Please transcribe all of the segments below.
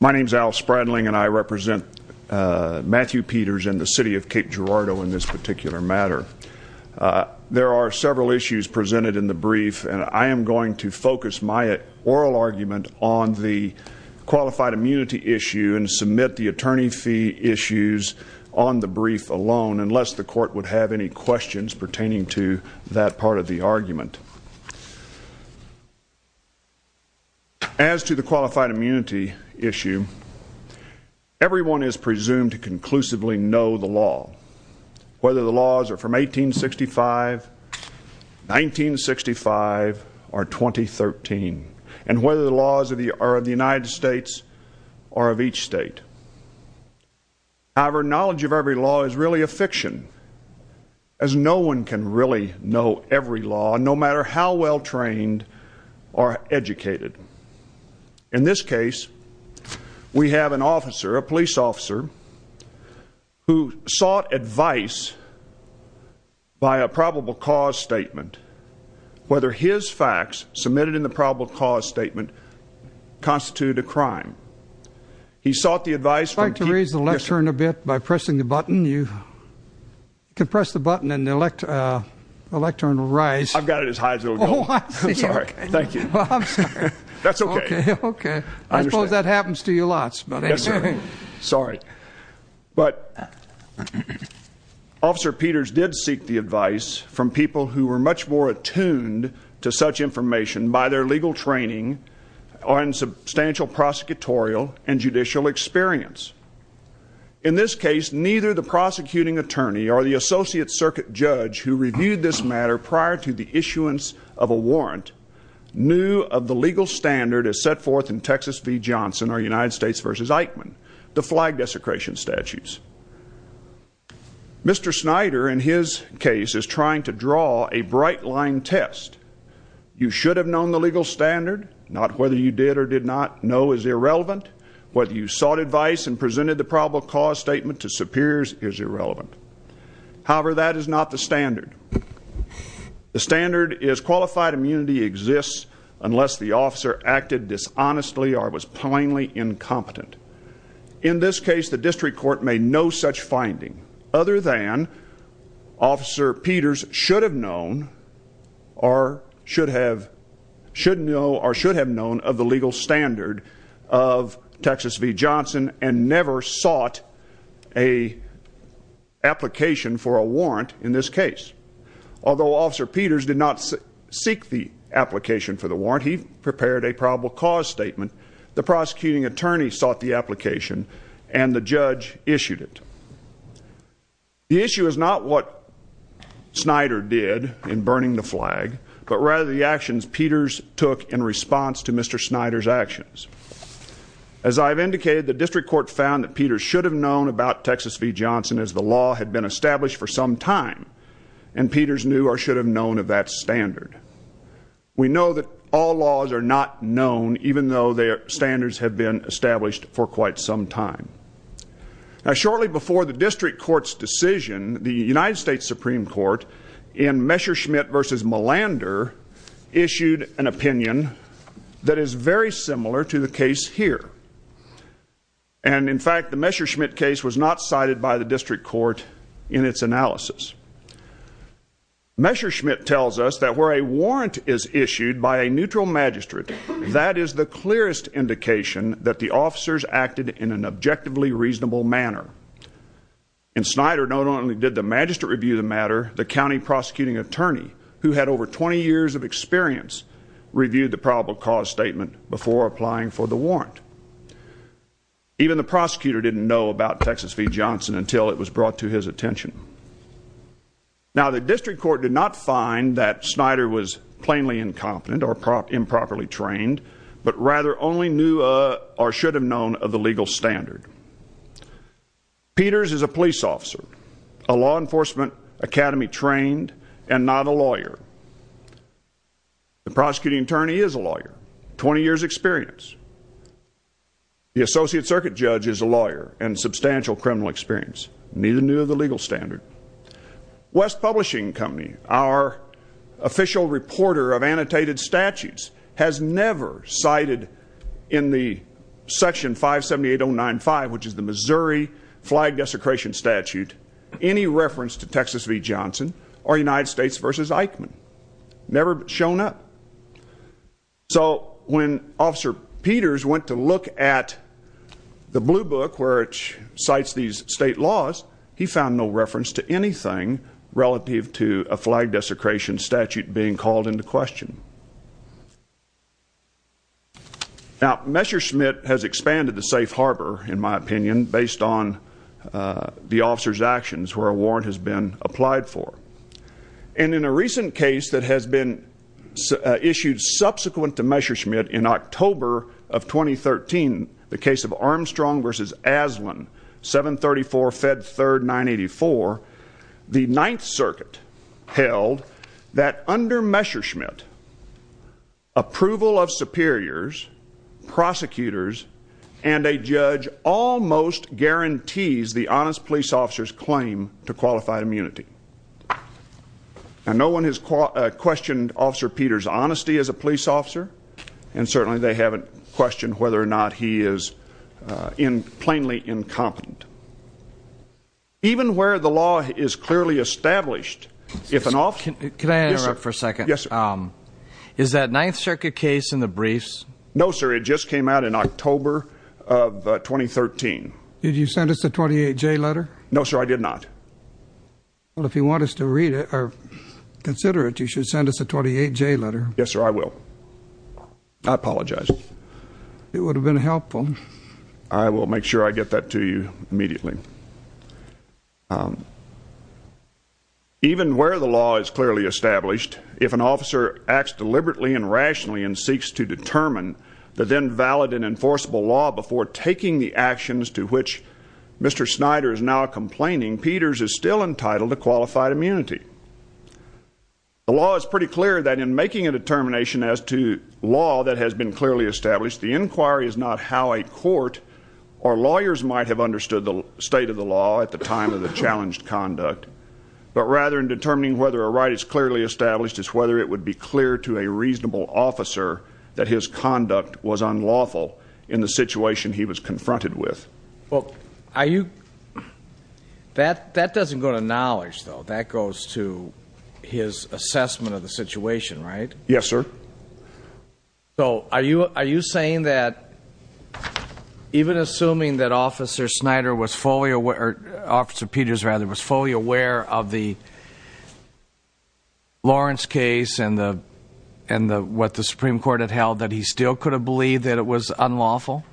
My name is Al Spradling and I represent Matthew Peters and the City of Cape Girardeau in this particular matter. There are several issues presented in the brief and I am going to focus my oral argument on the qualified immunity issue and submit the attorney fee issues on the brief alone unless the court would have any questions pertaining to that part of the argument. As to the qualified immunity issue, everyone is presumed to conclusively know the law, whether the laws are from 1865, 1965, or 2013, and whether the laws are of the United States or of each state. However, knowledge of every law is really a fiction, as no one can really know every law, no matter how well trained or educated. In this case, we have an officer, a police officer, who sought advice by a probable cause statement whether his facts submitted in the probable cause statement constituted a crime. He sought the advice from people I would like to raise the lectern a bit by pressing the button. You can press the button and the lectern will rise. I've got it as high as it will go. Oh, I see. I'm sorry. Thank you. Well, I'm sorry. That's okay. Okay. I suppose that happens to you lots, but anyway. Yes, sir. Sorry. But Officer Peters did seek the advice from people who were much more attuned to such information by their legal training or in substantial prosecutorial and judicial experience. In this case, neither the prosecuting attorney or the Associate Circuit judge who reviewed this matter prior to the issuance of a warrant knew of the legal standard as set forth in Texas v. Johnson or United States v. Eichmann, the flag desecration statutes. Mr. Snyder, in his case, is trying to draw a bright line test. You should have known the legal standard. Not whether you did or did not know is irrelevant. Whether you sought advice and presented the probable cause statement to superiors is irrelevant. However, that is not the standard. The standard is qualified immunity exists unless the officer acted dishonestly or was plainly incompetent. In this case, the district court made no such finding other than Officer Peters should have known or should have known of the legal standard of Texas v. Johnson and never sought an application for a warrant in this case. Although Officer the prosecuting attorney sought the application and the judge issued it. The issue is not what Snyder did in burning the flag, but rather the actions Peters took in response to Mr. Snyder's actions. As I've indicated, the district court found that Peters should have known about Texas v. Johnson as the law had been established for some time and Peters knew or should have known of that standard. We know that all laws are not known even though their standards have been established for quite some time. Now, shortly before the district court's decision, the United States Supreme Court in Messerschmitt v. Melander issued an opinion that is very similar to the case here. And, in fact, the Messerschmitt case was not cited by the district court in its analysis. Messerschmitt tells us that where a warrant is issued by a neutral magistrate, that is the clearest indication that the officers acted in an objectively reasonable manner. And Snyder not only did the magistrate review the matter, the county prosecuting attorney, who had over 20 years of experience, reviewed the probable cause statement before applying for the warrant. Even the prosecutor didn't know about Texas v. Johnson until it was brought to his attention. Now, the district court did not find that Snyder was plainly incompetent or improperly trained, but rather only knew or should have known of the legal standard. Peters is a police officer, a law enforcement academy trained and not a lawyer. The prosecuting attorney is a lawyer, 20 years experience. The associate circuit judge is a lawyer and substantial criminal experience. Neither knew of the legal standard. West Publishing Company, our official reporter of annotated statutes, has never cited in the section 578095, which is the Missouri flag desecration statute, any reference to Texas v. Johnson or United States v. Eichmann. Never shown up. So when Officer Peters went to look at the blue book where it cites these state laws, he found no reference to anything relative to a flag desecration statute being called into question. Now Messerschmitt has expanded the safe harbor, in my opinion, based on the officer's actions where a warrant has been applied for. And in a recent case that has been issued subsequent to Messerschmitt in October of 2013, the case of Armstrong v. Aslan, 734 Fed 3rd 984, the Ninth Circuit held that under Messerschmitt, approval of superiors, prosecutors, and a judge almost guarantees the honest police officer's claim to qualified immunity. And no one has questioned Officer Peters' honesty as a police officer. And certainly they haven't questioned whether or not he is in plainly incompetent. Even where the law is clearly established, if an officer Can I interrupt for a second? Yes, sir. Is that Ninth Circuit case in the briefs? No, sir. It just came out in October of 2013. Did you send us a 28J letter? No, sir, I did not. Well, if you want us to read it or consider it, you should send us a 28J letter. Yes, sir, I will. I apologize. It would have been helpful. I will make sure I get that to you immediately. Even where the law is clearly established, if an officer acts deliberately and rationally and seeks to determine the then valid and is still entitled to qualified immunity. The law is pretty clear that in making a determination as to law that has been clearly established, the inquiry is not how a court or lawyers might have understood the state of the law at the time of the challenged conduct, but rather in determining whether a right is clearly established is whether it would be clear to a reasonable officer that his conduct was unlawful in the situation he was confronted with. Well, are you... That doesn't go to knowledge, though. That goes to his assessment of the situation, right? Yes, sir. So, are you saying that even assuming that Officer Snyder was fully aware, or Officer Peters, rather, was fully aware of the Lawrence case and what the Supreme Court had held that he still could have believed that it was unlawful?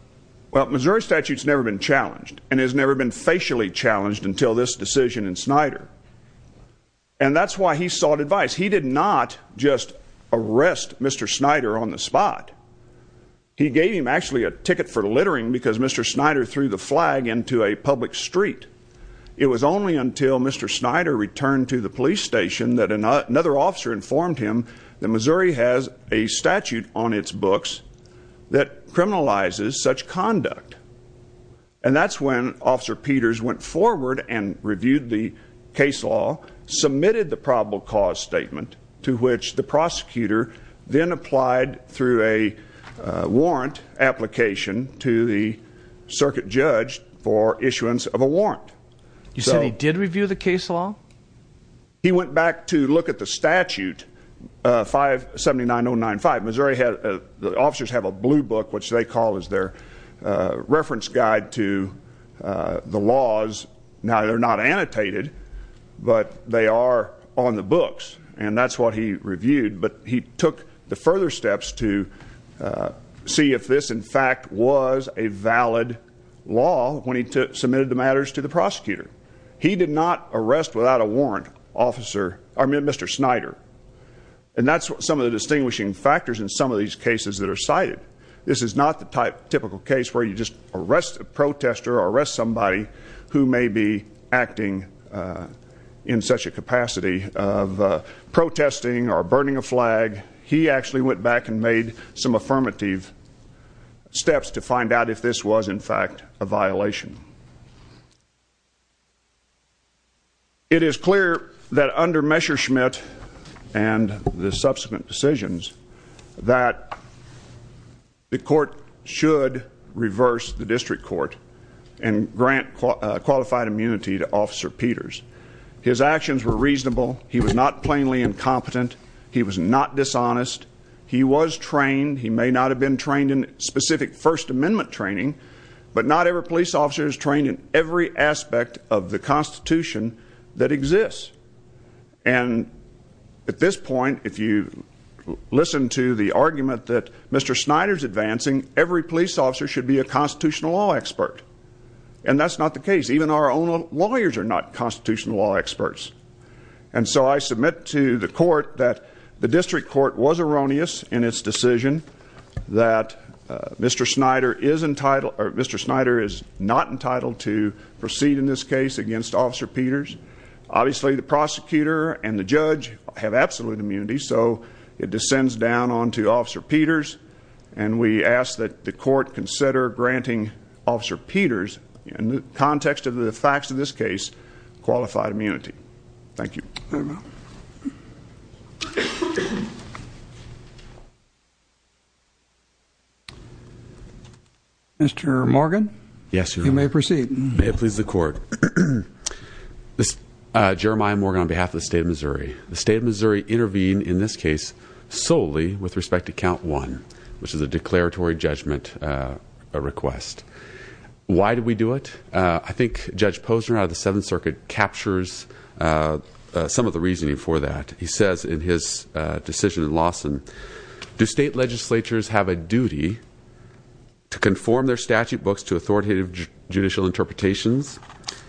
Well, Missouri statute has never been challenged and has never been facially challenged until this decision in Snyder. And that's why he sought advice. He did not just arrest Mr. Snyder on the spot. He gave him actually a ticket for littering because Mr. Snyder threw the flag into a public street. It was only until Mr. Snyder returned to the police station that another officer informed him that Missouri has a statute on its books that criminalizes such conduct. And that's when Officer Peters went forward and reviewed the case law, submitted the probable cause statement, to which the prosecutor then applied through a warrant application to the circuit judge for issuance of a warrant. You said he did review the case law? He went back to look at the statute, 579095. Missouri had, the officers have a blue book, which they call as their reference guide to the laws. Now, they're not annotated, but they are on the books. And that's what he reviewed. But he took the further steps to see if this, in fact, was a valid law when he submitted the matters to the prosecutor. He did not arrest without a warrant officer, I mean, Mr. Snyder. And that's some of the distinguishing factors in some of these cases that are cited. This is not the typical case where you just arrest a protester or arrest somebody who may be acting in such a capacity of protesting or burning a flag. He actually went back and made some affirmative steps to find out if this was, in fact, a violation. It is clear that under Messerschmitt and the subsequent decisions that the court should reverse the district court and grant qualified immunity to Officer Peters. His actions were reasonable. He was not plainly incompetent. He was not dishonest. He was trained. He may not have been trained in specific First Amendment training, but not every police officer is trained in every aspect of the Constitution that exists. And at this point, if you listen to the argument that Mr. Snyder's advancing, every police officer should be a constitutional law expert. And that's not the case. Even our own lawyers are not constitutional law experts. And so I submit to the court that the district court was erroneous in its decision that Mr. Snyder is entitled, or Mr. Snyder is not entitled to proceed in this case against Officer Peters. Obviously, the prosecutor and the judge have absolute immunity, so it descends down onto Officer Peters. And we ask that the court consider granting Officer Peters, in the context of the facts of this case, qualified immunity. Thank you. Mr. Morgan? Yes, Your Honor. You may proceed. May it please the court. Jeremiah Morgan on behalf of the State of Missouri. The State of Missouri intervened in this case solely with respect to Count 1, which is a declaratory judgment request. Why did we do it? I think Judge Posner out of the Seventh Circuit captures some of the reasoning for that. He says in his decision in Lawson, do state legislatures have a duty to conform their statute books to authoritative judicial interpretations?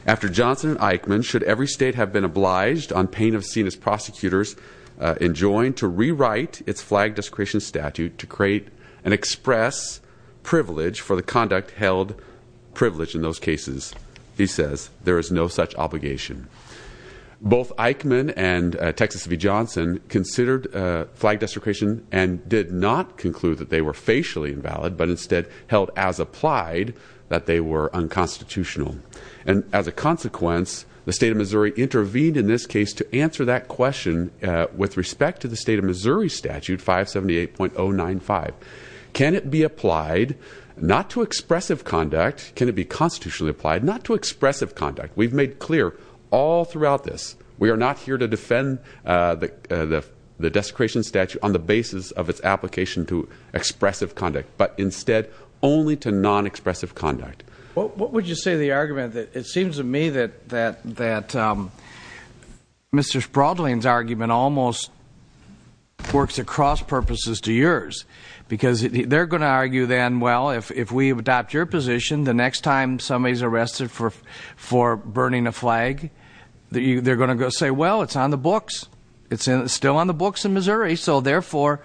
After Johnson and Eichmann, should every state have been obliged, on pain of seeing its prosecutors enjoined, to rewrite its flagged discretion statute to create an express privilege for the conduct held privilege in those cases? He says there is no such obligation. Both Eichmann and Texas v. Johnson considered flagged discretion and did not conclude that they were facially invalid, but instead held as applied that they were unconstitutional. And as a consequence, the State of Missouri intervened in this case to answer that question with respect to the State of Missouri statute 578.095. Can it be applied not to expressive conduct, can it be constitutionally applied not to expressive conduct? We've made clear all throughout this, we are not here to defend the desecration statute on the basis of its application to expressive conduct, but instead only to non-expressive conduct. What would you say to the argument that it seems to me that Mr. Spraudling's argument almost works across purposes to yours? Because they're going to argue then, well, if we adopt your position, the next time somebody's arrested for burning a flag, they're going to say, well, it's on the books. It's still on the books in Missouri, so therefore,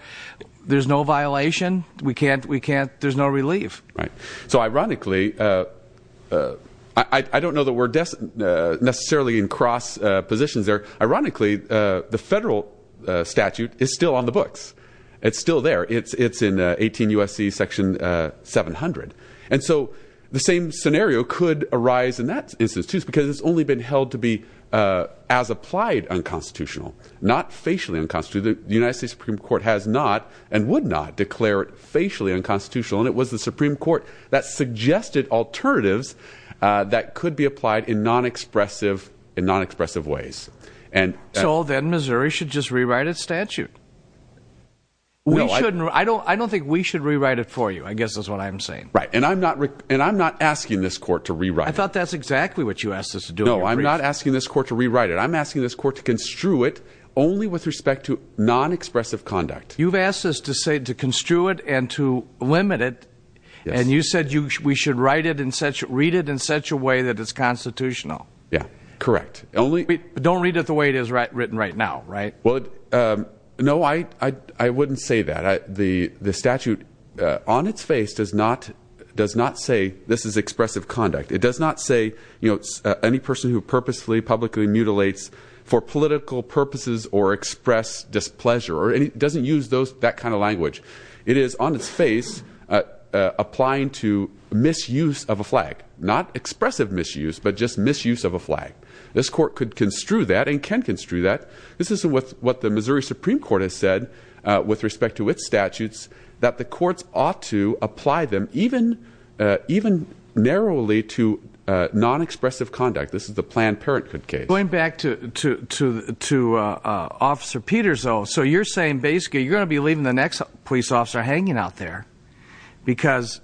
there's no violation, we can't, there's no relief. So ironically, I don't know that we're necessarily in cross positions there. Ironically, the federal statute is still on the books. It's still there. It's in 18 U.S.C. section 700. And so the same scenario could arise in that instance, too, because it's only been held to be as applied unconstitutional, not facially unconstitutional. The United States Supreme Court has not and would not declare it facially unconstitutional, and it was the Supreme Court that suggested alternatives that could be applied in non-expressive ways. So then Missouri should just rewrite its statute. I don't think we should rewrite it for you, I guess is what I'm saying. Right. And I'm not asking this court to rewrite it. I thought that's exactly what you asked us to do. No, I'm not asking this court to rewrite it. I'm asking this court to construe it only with respect to non-expressive conduct. You've asked us to say, to construe it and to limit it. And you said we should write it in such, read it in such a way that it's constitutional. Yeah, correct. Don't read it the way it is written right now, right? No, I wouldn't say that. The statute on its face does not say this is expressive conduct. It does not say, you know, any person who purposefully, publicly mutilates for political purposes or express displeasure or doesn't use that kind of language. It is on its face applying to misuse of a flag, not expressive misuse, but just misuse of a flag. This court could construe that and can construe that. This is what the Missouri Supreme Court has said with respect to its statutes, that the courts ought to apply them even narrowly to non-expressive conduct. This is the Planned Parenthood case. Going back to Officer Peters, though, so you're saying basically you're going to be leaving the next police officer hanging out there because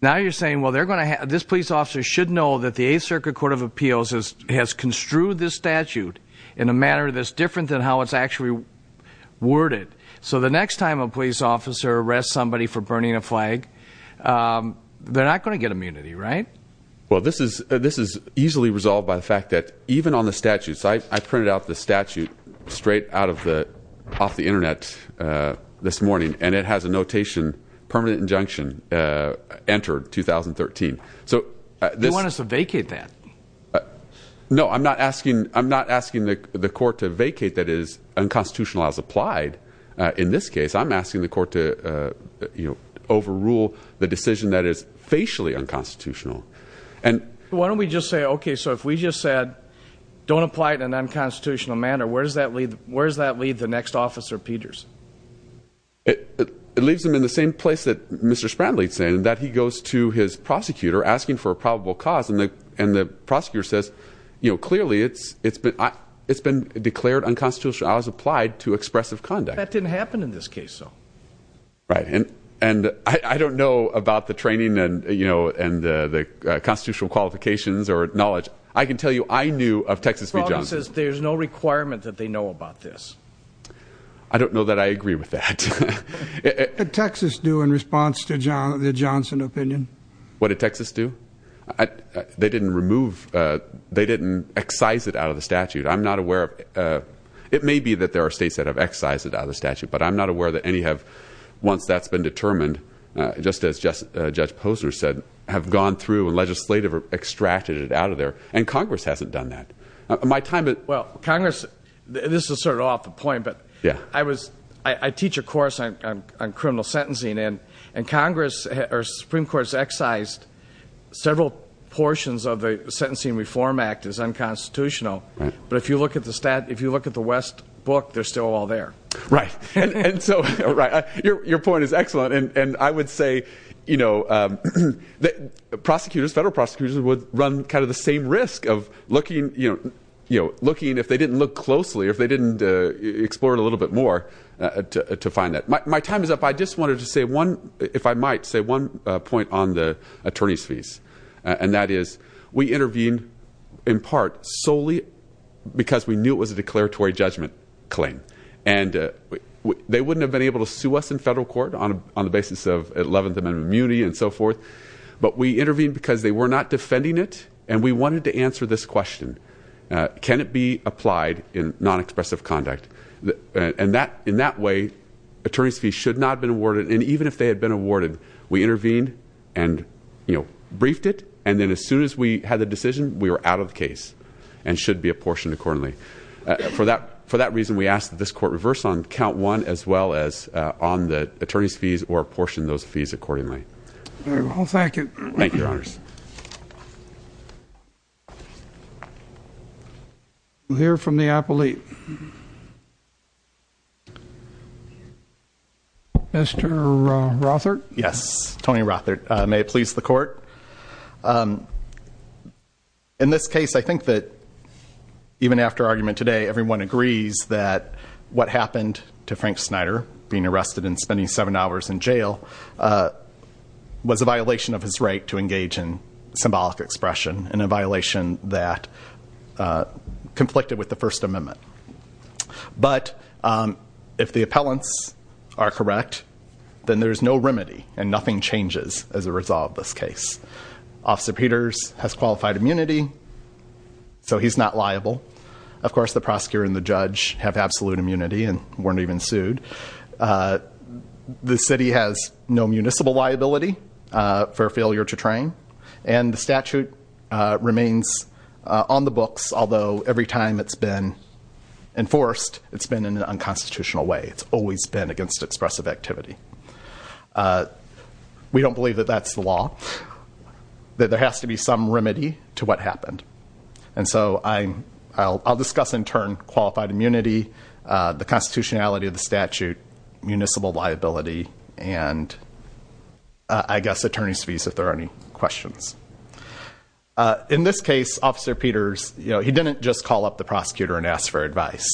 now you're saying, well, they're going to have, this police officer should know that the Eighth Circuit Court of Appeals has construed this statute in a manner that's different than how it's actually worded. So the next time a police officer arrests somebody for burning a flag, they're not going to get immunity, right? Well, this is easily resolved by the fact that even on the statutes, I printed out the statute straight out of the, off the internet this morning, and it has a notation, permanent injunction entered 2013. So you want us to vacate that? No, I'm not asking the court to vacate that is unconstitutional as applied. In this case, I'm asking the court to, you know, overrule the decision that is facially unconstitutional. And why don't we just say, okay, so if we just said, don't apply it in an unconstitutional manner, where does that lead? Where does that lead the next Officer Peters? It leaves them in the same place that Mr. Spratley's saying, that he goes to his prosecutor asking for a probable cause. And the, and the prosecutor says, you know, clearly it's, it's been, it's been declared unconstitutional as applied to expressive conduct. That didn't happen in this case. So, right. And, and I don't know about the training and, you know, and the, the constitutional qualifications or knowledge. I can tell you, I knew of Texas v. Johnson. There's no requirement that they know about this. I don't know that I agree with that. Did Texas do in response to John, the Johnson opinion? What did Texas do? They didn't remove, they didn't excise it out of the statute. I'm not aware that any have, once that's been determined, just as just Judge Posner said, have gone through and legislative extracted it out of there. And Congress hasn't done that. My time at. Well, Congress, this is sort of off the point, but I was, I teach a course on, on, on criminal sentencing and, and Congress or Supreme Court's excised several portions of the Sentencing Reform Act is unconstitutional. But if you look at the stat, if you look at the West book, they're still all there. Right. And so, right. Your, your point is excellent. And I would say, you know, prosecutors, federal prosecutors would run kind of the same risk of looking, you know, you know, looking if they didn't look closely, if they didn't explore it a little bit more to find that my, my time is up. I just wanted to say one, if I might say one point on the attorney's fees, and that is in part solely because we knew it was a declaratory judgment claim and they wouldn't have been able to sue us in federal court on, on the basis of 11th amendment immunity and so forth. But we intervened because they were not defending it. And we wanted to answer this question. Can it be applied in non-expressive conduct? And that, in that way, attorneys fee should not have been awarded. And even if they had been awarded, we intervened and, you know, as soon as we had the decision, we were out of the case and should be apportioned accordingly. For that, for that reason, we ask that this court reverse on count one as well as on the attorney's fees or apportion those fees accordingly. All right. Well, thank you. Thank you, Your Honors. We'll hear from the appellate. Mr. Rothard? Yes. Tony Rothard. May it please the court. In this case, I think that even after argument today, everyone agrees that what happened to Frank Snyder being arrested and spending seven hours in jail was a violation of his right to engage in symbolic expression and a violation that conflicted with the First Amendment. But if the appellants are correct, then there's no remedy and nothing changes as a result of this case. Officer Peters has qualified immunity, so he's not liable. Of course, the prosecutor and the judge have absolute immunity and weren't even sued. The city has no municipal liability for failure to train, and the statute remains on the books, although every time it's been enforced, it's been in an unconstitutional way. It's always been against expressive activity. We don't believe that that's the law, that there has to be some remedy to what happened. And so I'll discuss in turn qualified immunity, the constitutionality of the statute, municipal liability, and I guess attorney's fees if there are any questions. In this case, Officer Peters, he didn't just call up the prosecutor and ask for advice.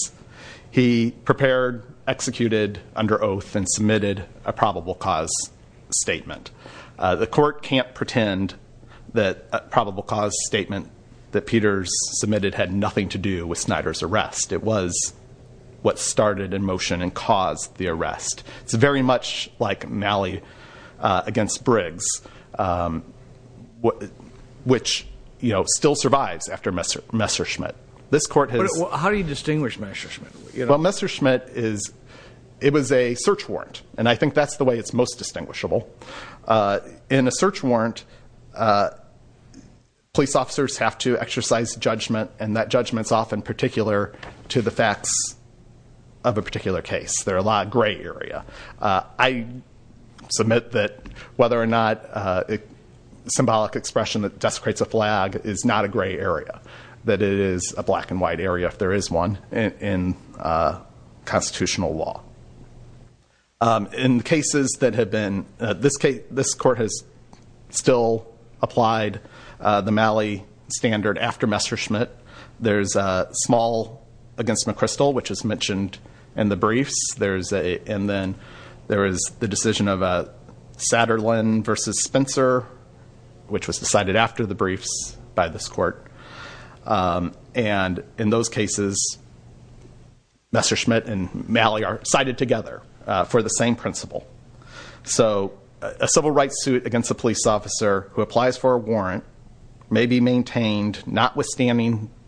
He prepared, executed under oath, and submitted a probable cause statement. The court can't pretend that a probable cause statement that Peters submitted had nothing to do with Snyder's arrest. It was what started in motion and caused the arrest. It's very much like an alley against Briggs, which still survives after Messerschmitt. This court has- How do you distinguish Messerschmitt? Well, Messerschmitt is, it was a search warrant, and I think that's the way it's most distinguishable. In a search warrant, police officers have to exercise judgment, and that judgment's often particular to the facts of a particular case. There are a lot of gray area. I submit that whether or not symbolic expression that desecrates a flag is not a gray area. That it is a black and white area if there is one in constitutional law. In cases that have been, this court has still applied the Malley standard after Messerschmitt. There's a small against McChrystal, which is mentioned in the briefs. There's a, and then there is the decision of Satterlin versus Spencer, which was decided after the briefs by this court. And in those cases, Messerschmitt and Malley are cited together for the same principle. So a civil rights suit against a police officer who applies for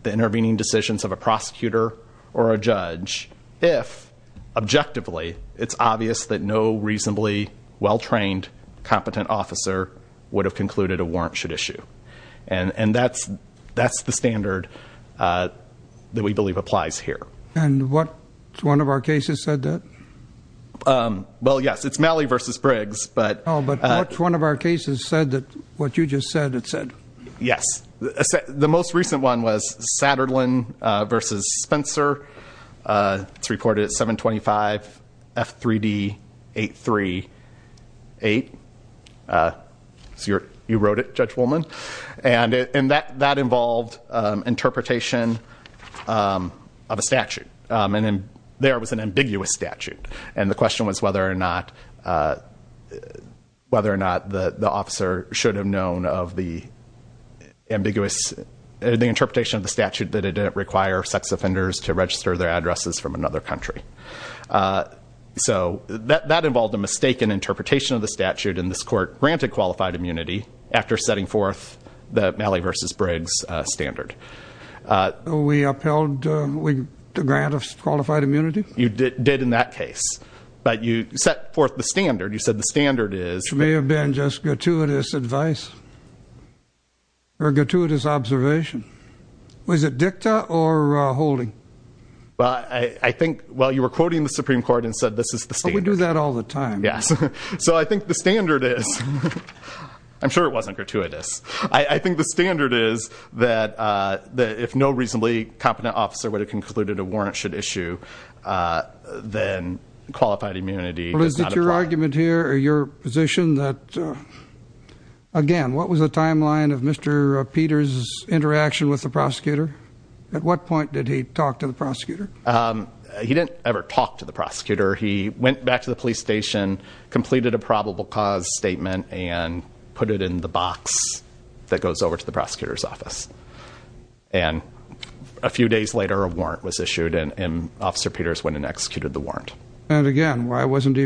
the intervening decisions of a prosecutor or a judge if, objectively, it's obvious that no reasonably well-trained, competent officer would have concluded a warrant should issue. And that's the standard that we believe applies here. And what, one of our cases said that? Well, yes, it's Malley versus Briggs, but- No, but what's one of our cases said that what you just said it said? Yes, the most recent one was Satterlin versus Spencer. It's reported at 725 F3D 838. So you wrote it, Judge Woolman. And that involved interpretation of a statute. And there was an ambiguous statute. And the question was whether or not the officer should have known of the ambiguous, the interpretation of the statute that it didn't require sex offenders to register their addresses from another country. So that involved a mistaken interpretation of the statute. And this court granted qualified immunity after setting forth the Malley versus Briggs standard. We upheld the grant of qualified immunity? You did in that case. But you set forth the standard. You said the standard is- May have been just gratuitous advice or gratuitous observation. Was it dicta or holding? Well, I think, well, you were quoting the Supreme Court and said this is the standard. We do that all the time. Yes. So I think the standard is, I'm sure it wasn't gratuitous. I think the standard is that if no reasonably competent officer would have concluded a warrant should issue, then qualified immunity does not apply. Your argument here or your position that, again, what was the timeline of Mr. Peters' interaction with the prosecutor? At what point did he talk to the prosecutor? He didn't ever talk to the prosecutor. He went back to the police station, completed a probable cause statement, and put it in the box that goes over to the prosecutor's office. And a few days later, a warrant was issued, and Officer Peters went and executed the warrant. And again, why wasn't he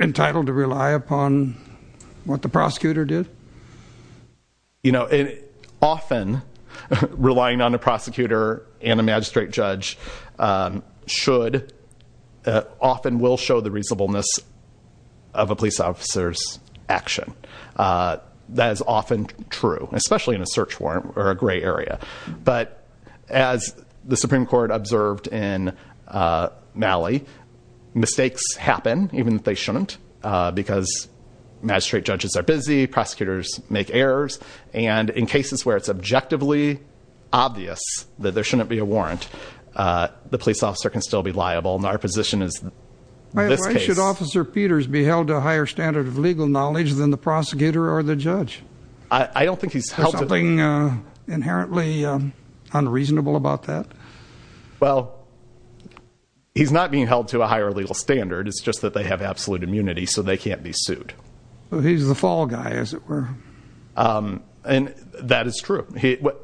entitled to rely upon what the prosecutor did? You know, often, relying on the prosecutor and a magistrate judge should, often will show the reasonableness of a police officer's action. That is often true, especially in a search warrant or a gray area. But as the Supreme Court observed in Malley, mistakes happen even if they shouldn't because magistrate judges are busy, prosecutors make errors. And in cases where it's objectively obvious that there shouldn't be a warrant, the police officer can still be liable. And our position is in this case- Why should Officer Peters be held to a higher standard of legal knowledge than the prosecutor or the judge? I don't think he's held to- There's something inherently unreasonable about that? Well, he's not being held to a higher legal standard. It's just that they have absolute immunity, so they can't be sued. But he's the fall guy, as it were. And that is true.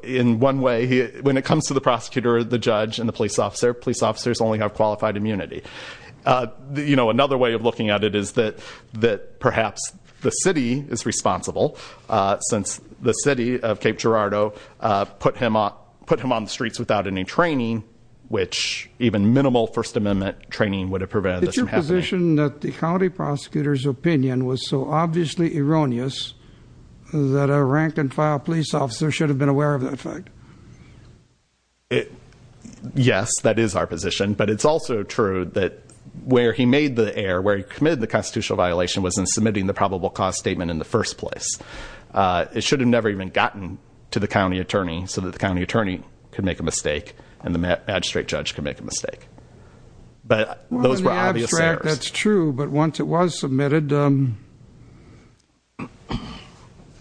In one way, when it comes to the prosecutor, the judge, and the police officer, police officers only have qualified immunity. Another way of looking at it is that perhaps the city is responsible, since the city of Cape Girardeau put him on the streets without any training, which even minimal First Amendment training would have prevented this from happening. Is your position that the county prosecutor's opinion was so obviously erroneous that a rank and file police officer should have been aware of that fact? Yes, that is our position. But it's also true that where he made the error, where he committed the constitutional violation, was in submitting the probable cause statement in the first place. It should have never even gotten to the county attorney, so that the county attorney could make a mistake, and the magistrate judge could make a mistake, but those were obvious errors. That's true, but once it was submitted,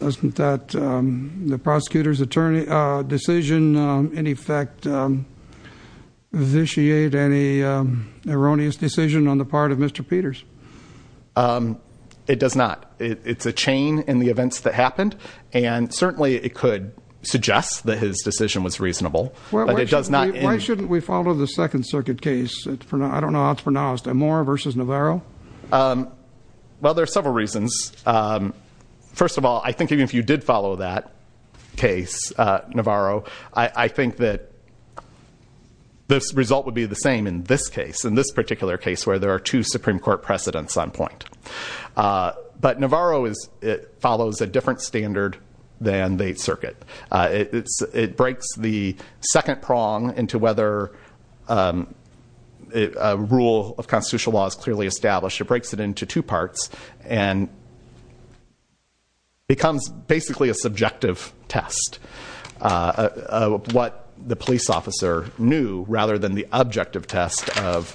wasn't that the prosecutor's decision, in effect, vitiate any erroneous decision on the part of Mr. Peters? It does not, it's a chain in the events that happened, and certainly it could suggest that his decision was reasonable, but it does not- Why shouldn't we follow the Second Circuit case? I don't know how it's pronounced, Amora versus Navarro? Well, there are several reasons. First of all, I think even if you did follow that case, Navarro, I think that this result would be the same in this case, in this particular case, where there are two Supreme Court precedents on point. But Navarro follows a different standard than the circuit. It breaks the second prong into whether a rule of constitutional law is clearly established, it breaks it into two parts and becomes basically a subjective test of what the police officer knew, rather than the objective test of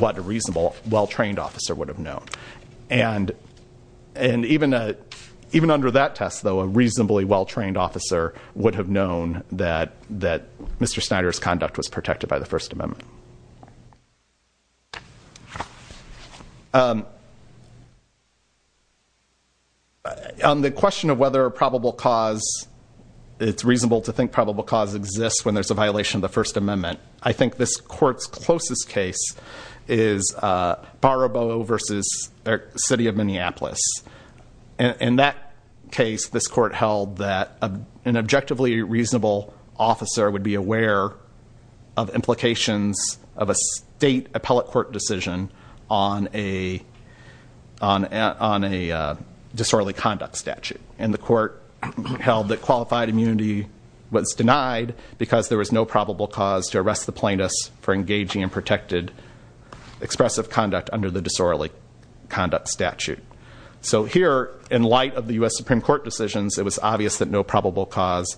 what a reasonable, well-trained officer would have known. And even under that test, though, a reasonably well-trained officer would have known that Mr. Snyder's conduct was protected by the First Amendment. On the question of whether a probable cause, it's reasonable to think probable cause exists when there's a violation of the First Amendment. I think this court's closest case is Baraboe versus the city of Minneapolis. In that case, this court held that an objectively reasonable officer would be aware of implications of a state appellate court decision on a disorderly conduct statute. And the court held that qualified immunity was denied because there was no probable cause to arrest the plaintiffs for So here, in light of the US Supreme Court decisions, it was obvious that no probable cause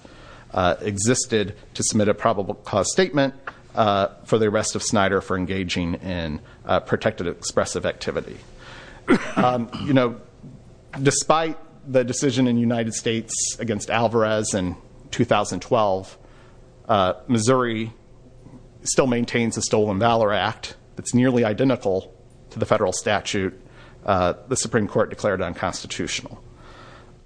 existed to submit a probable cause statement for the arrest of Snyder for engaging in protected expressive activity. Despite the decision in the United States against Alvarez in 2012, Missouri still maintains a Stolen Valor Act that's nearly identical to the federal statute. The Supreme Court declared it unconstitutional.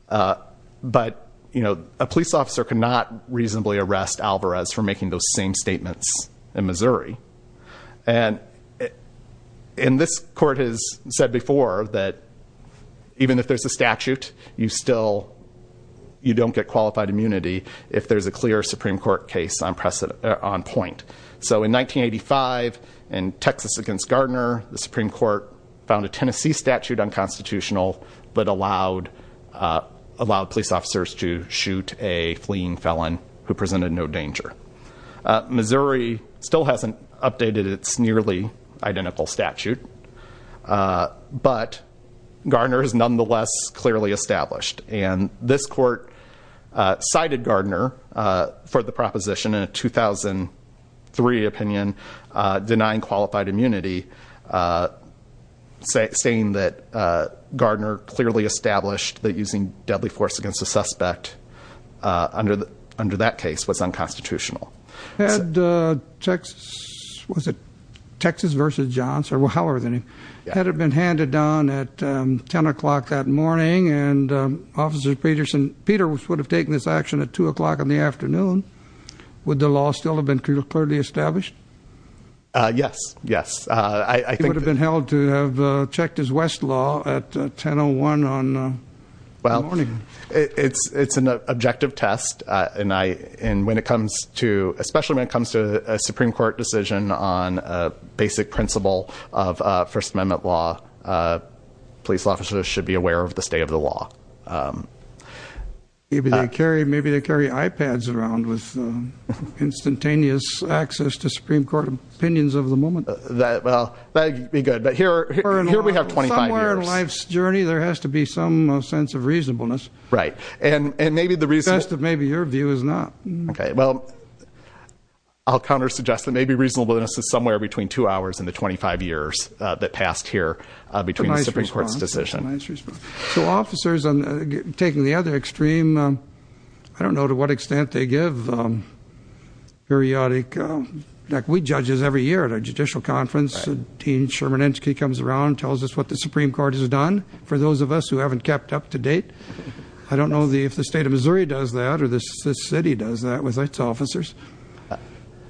But a police officer cannot reasonably arrest Alvarez for making those same statements in Missouri. And this court has said before that even if there's a statute, you still, you don't get qualified immunity if there's a clear Supreme Court case on point. So in 1985, in Texas against Gardner, the Supreme Court found a Tennessee statute unconstitutional, but allowed police officers to shoot a fleeing felon who presented no danger. Missouri still hasn't updated its nearly identical statute, but Gardner is nonetheless clearly established, and this court cited Gardner for the proposition in a 2003 opinion, denying qualified immunity, saying that Gardner clearly established that using deadly force against a suspect under that case was unconstitutional. Had Texas, was it Texas versus Johnson, or however the name, had it been handed down at 10 o'clock that morning and Officer Peterson, Peter, would have taken this action at 2 o'clock in the afternoon, would the law still have been clearly established? Yes, yes. He would have been held to have checked his West Law at 1001 on the morning. It's an objective test, and when it comes to, especially when it comes to a Supreme Court decision on a basic principle of First Amendment law, police officers should be aware of the state of the law. Maybe they carry, maybe they carry iPads around with instantaneous access to Supreme Court opinions of the moment. That, well, that'd be good. But here, here we have 25 years. Somewhere in life's journey, there has to be some sense of reasonableness. Right. And, and maybe the reason. Best of maybe your view is not. Okay, well, I'll counter suggest that maybe reasonableness is somewhere between two hours and the 25 years that passed here between the Supreme Court's decision. Nice response. So officers, taking the other extreme, I don't know to what extent they give periodic, like we judges every year at a judicial conference. Dean Sherman Inchkey comes around and tells us what the Supreme Court has done, for those of us who haven't kept up to date. I don't know if the state of Missouri does that or this city does that with its officers.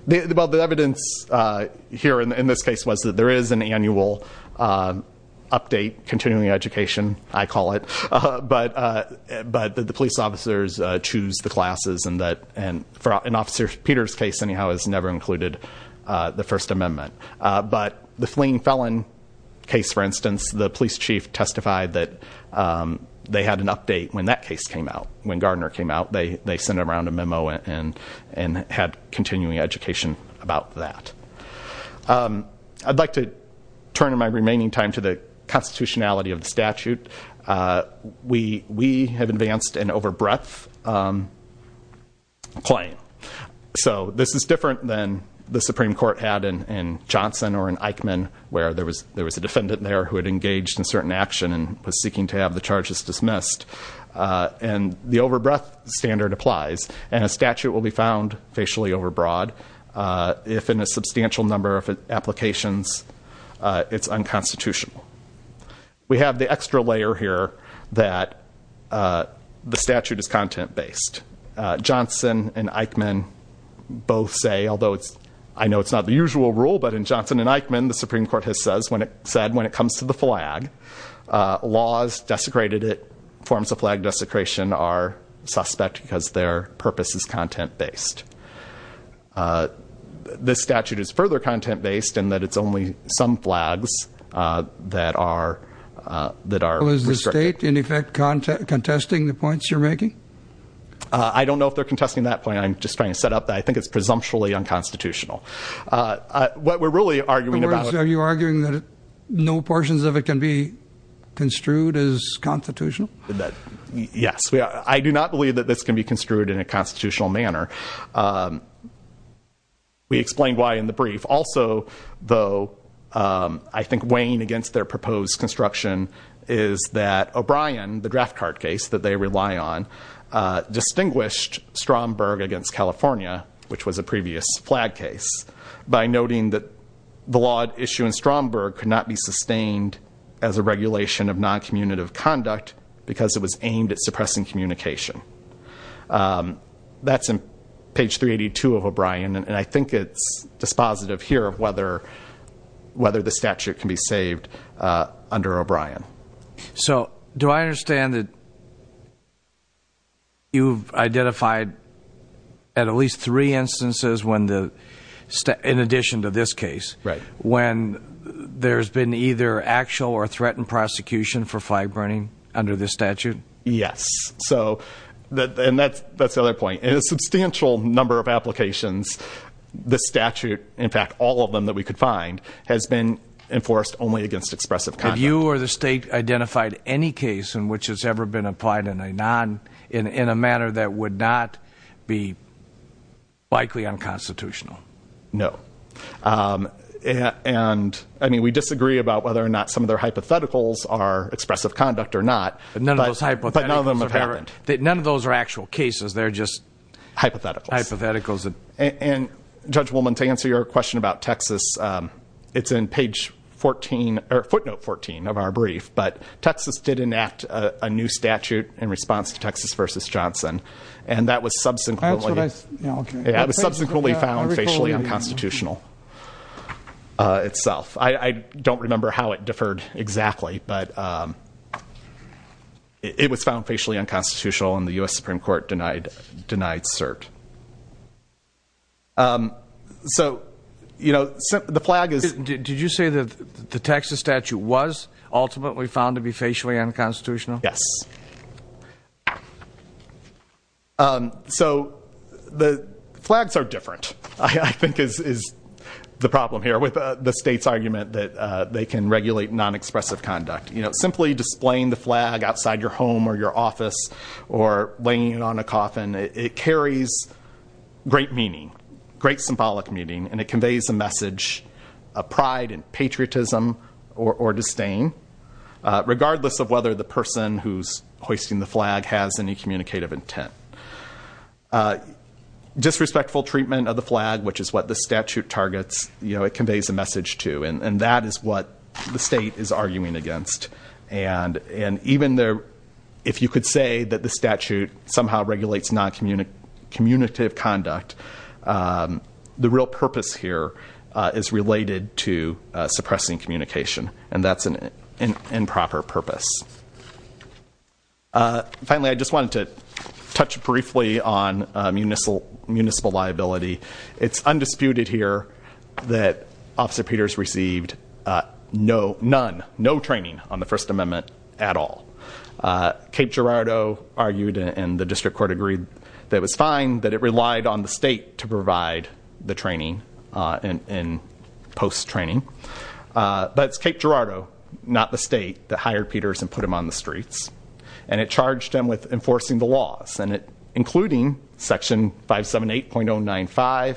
Well, the evidence here in this case was that there is an annual update, continuing education, I call it. But, but the police officers choose the classes and that, and for an officer, Peter's case anyhow has never included the First Amendment. But the fleeing felon case, for instance, the police chief testified that they had an update when that case came out. When Gardner came out, they, they sent around a memo and, and had continuing education about that. Um, I'd like to turn in my remaining time to the constitutionality of the statute. Uh, we, we have advanced an over breadth, um, claim. So this is different than the Supreme Court had in, in Johnson or in Eichmann, where there was, there was a defendant there who had engaged in certain action and was seeking to have the charges dismissed. Uh, and the over breadth standard applies and a statute will be found facially overbroad. Uh, if in a substantial number of applications, uh, it's unconstitutional. We have the extra layer here that, uh, the statute is content based. Uh, Johnson and Eichmann both say, although it's, I know it's not the usual rule, but in Johnson and Eichmann, the Supreme Court has says, when it said, when it comes to the flag, uh, laws desecrated, it forms a flag desecration are suspect because their purpose is content based. Uh, this statute is further content based in that. It's only some flags, uh, that are, uh, that are. Is the state in effect content contesting the points you're making? Uh, I don't know if they're contesting that point. I'm just trying to set up that. I think it's presumptually unconstitutional. Uh, uh, what we're really arguing about, are you arguing that no portions of it can be construed as constitutional? Yes. I do not believe that this can be construed in a constitutional manner. Um, we explained why in the brief. Also, though, um, I think weighing against their proposed construction is that O'Brien, the draft card case that they rely on, uh, distinguished Stromberg against California, which was a previous flag case by noting that the law issue in Stromberg could not be sustained as a regulation of non-communative conduct because it was aimed at suppressing communication. Um, that's in page 382 of O'Brien and I think it's dispositive here of whether, whether the statute can be saved, uh, under O'Brien. So do I understand that you've identified at least three instances when the, in addition to this case. Right. When there's been either actual or threatened prosecution for flag burning under this statute? Yes. So that, and that's, that's the other point in a substantial number of applications, the statute, in fact, all of them that we could find has been enforced only against expressive. Have you or the state identified any case in which it's ever been applied in a non, in, in a manner that would not be likely unconstitutional? No. Um, and I mean, we disagree about whether or not some of their hypotheticals are expressive conduct or not, but none of them have happened. None of those are actual cases. They're just hypotheticals. Hypotheticals. And judge woman, to answer your question about Texas, um, it's in page 14 or footnote 14 of our brief, but Texas did enact a new statute in response to Texas versus Johnson. And that was subsequently found facially unconstitutional, uh, itself. I don't remember how it differed exactly, but, um, it was found facially unconstitutional and the U S Supreme court denied, denied cert. Um, so, you know, the flag is, did you say that the Texas statute was ultimately found to be facially unconstitutional? Yes. Um, so the flags are different. I think is, is the problem here with the state's argument that, uh, they can regulate non-expressive conduct, you know, simply displaying the flag outside your home or your office or laying it on a coffin. It carries great meaning, great symbolic meaning, and it conveys a message of pride and patriotism or, or disdain, uh, regardless of whether the person who's hoisting the flag has any communicative intent. Uh, disrespectful treatment of the flag, which is what the statute targets, you know, it conveys a message to, and that is what the state is arguing against. And, and even there, if you could say that the statute somehow regulates non-communicative conduct, um, the real purpose here, uh, is related to, uh, suppressing communication and that's an improper purpose. Uh, finally, I just wanted to touch briefly on, uh, municipal, municipal liability. It's undisputed here that Officer Peters received, uh, no, none, no training on the First Amendment at all. Uh, Cape Girardeau argued and the district court agreed that it was fine that it relied on the state to provide the training, uh, and, and post-training. Uh, but it's Cape Girardeau, not the state that hired Peters and put him on the streets and it charged him with enforcing the laws and it, including section 578.095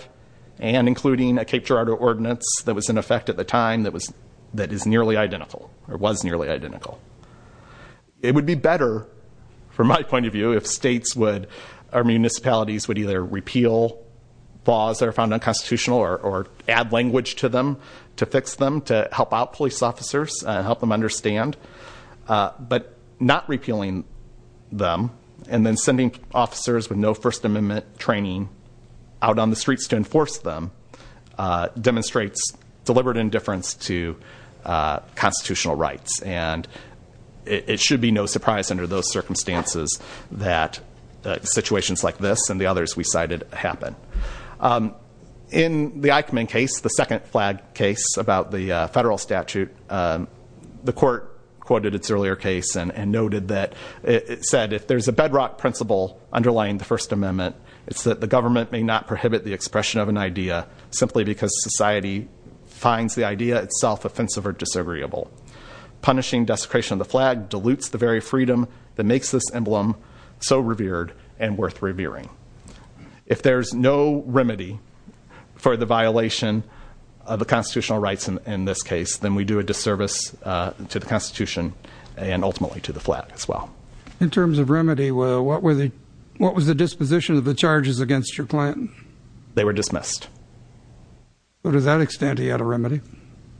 and including a Cape Girardeau ordinance that was in effect at the time that was, that is nearly identical or was nearly identical. It would be better from my point of view, if states would, our municipalities would either repeal laws that are found unconstitutional or, or add language to them to fix them, to help out police officers, uh, help them understand, uh, but not repealing them and then sending officers with no First Amendment training out on the streets to enforce them, uh, demonstrates deliberate indifference to, uh, constitutional rights. And it, it should be no surprise under those circumstances that, uh, situations like this and the others we cited happen. Um, in the Eichmann case, the second flag case about the, uh, federal statute, um, the court quoted its earlier case and, and noted that it said, if there's a bedrock principle underlying the First Amendment, it's that the government may not prohibit the expression of an idea simply because society finds the idea itself offensive or disagreeable. Punishing desecration of the flag dilutes the very freedom that makes this emblem so revered and worth revering. If there's no remedy for the violation of the constitutional rights in, in this case, then we do a disservice, uh, to the constitution and ultimately to the flag as well. In terms of remedy, what were the, what was the disposition of the charges against your client? They were dismissed. So to that extent, he had a remedy?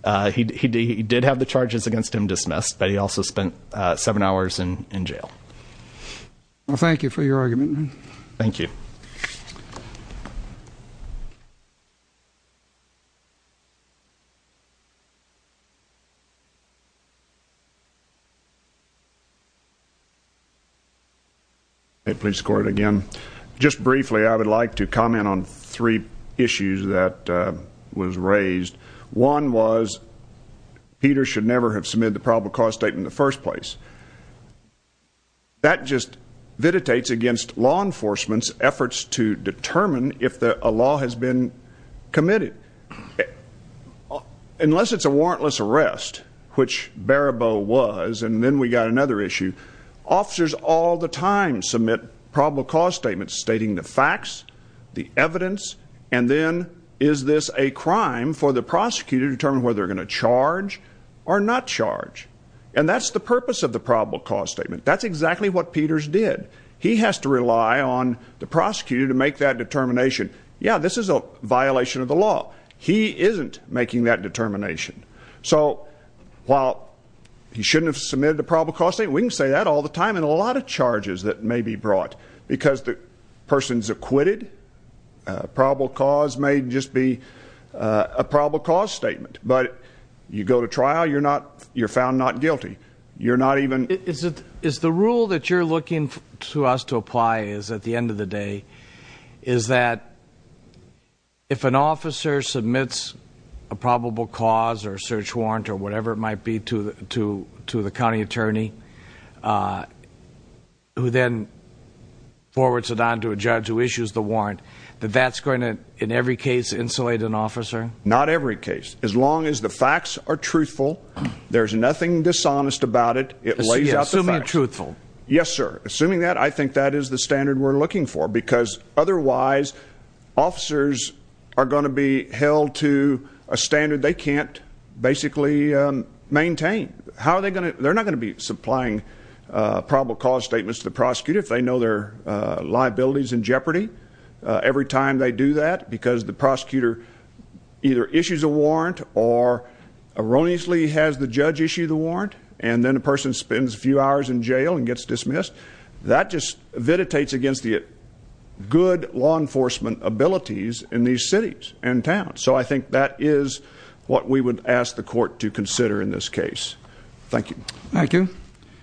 Uh, he, he, he did have the charges against him dismissed, but he also spent, uh, seven hours in, in jail. Well, thank you for your argument. Thank you. Thank you. Okay, please score it again. Just briefly, I would like to comment on three issues that, uh, was raised. One was Peter should never have submitted the probable cause statement in the first place. That just vititates against law enforcement's efforts to determine if the, a law has been committed. Unless it's a warrantless arrest, which Barabow was, and then we got another issue. Officers all the time submit probable cause statements stating the facts, the evidence, and then is this a crime for the prosecutor to determine whether they're going to charge or not charge? And that's the purpose of the probable cause statement. That's exactly what Peters did. He has to rely on the prosecutor to make that determination. Yeah, this is a violation of the law. He isn't making that determination. So while he shouldn't have submitted a probable cause statement, we can say that all the time in a lot of charges that may be brought because the person's acquitted. A probable cause may just be a probable cause statement, but you go to trial, you're not, you're not guilty. You're not even, is it, is the rule that you're looking to us to apply is at the end of the day, is that if an officer submits a probable cause or search warrant or whatever it might be to, to, to the county attorney, uh, who then forwards it on to a judge who issues the warrant, that that's going to, in every case, insulate an officer. Not every case. As long as the facts are truthful, there's nothing dishonest about it. It lays out the truthful. Yes, sir. Assuming that, I think that is the standard we're looking for because otherwise officers are going to be held to a standard. They can't basically, um, maintain how are they going to, they're not going to be supplying, uh, probable cause statements to the prosecutor. If they know their, uh, liabilities in jeopardy, uh, every time they do that because the prosecutor either issues a warrant or erroneously has the judge issue the warrant and then a person spends a few hours in jail and gets dismissed, that just vitiates against the good law enforcement abilities in these cities and towns. So I think that is what we would ask the court to consider in this case. Thank you. Thank you.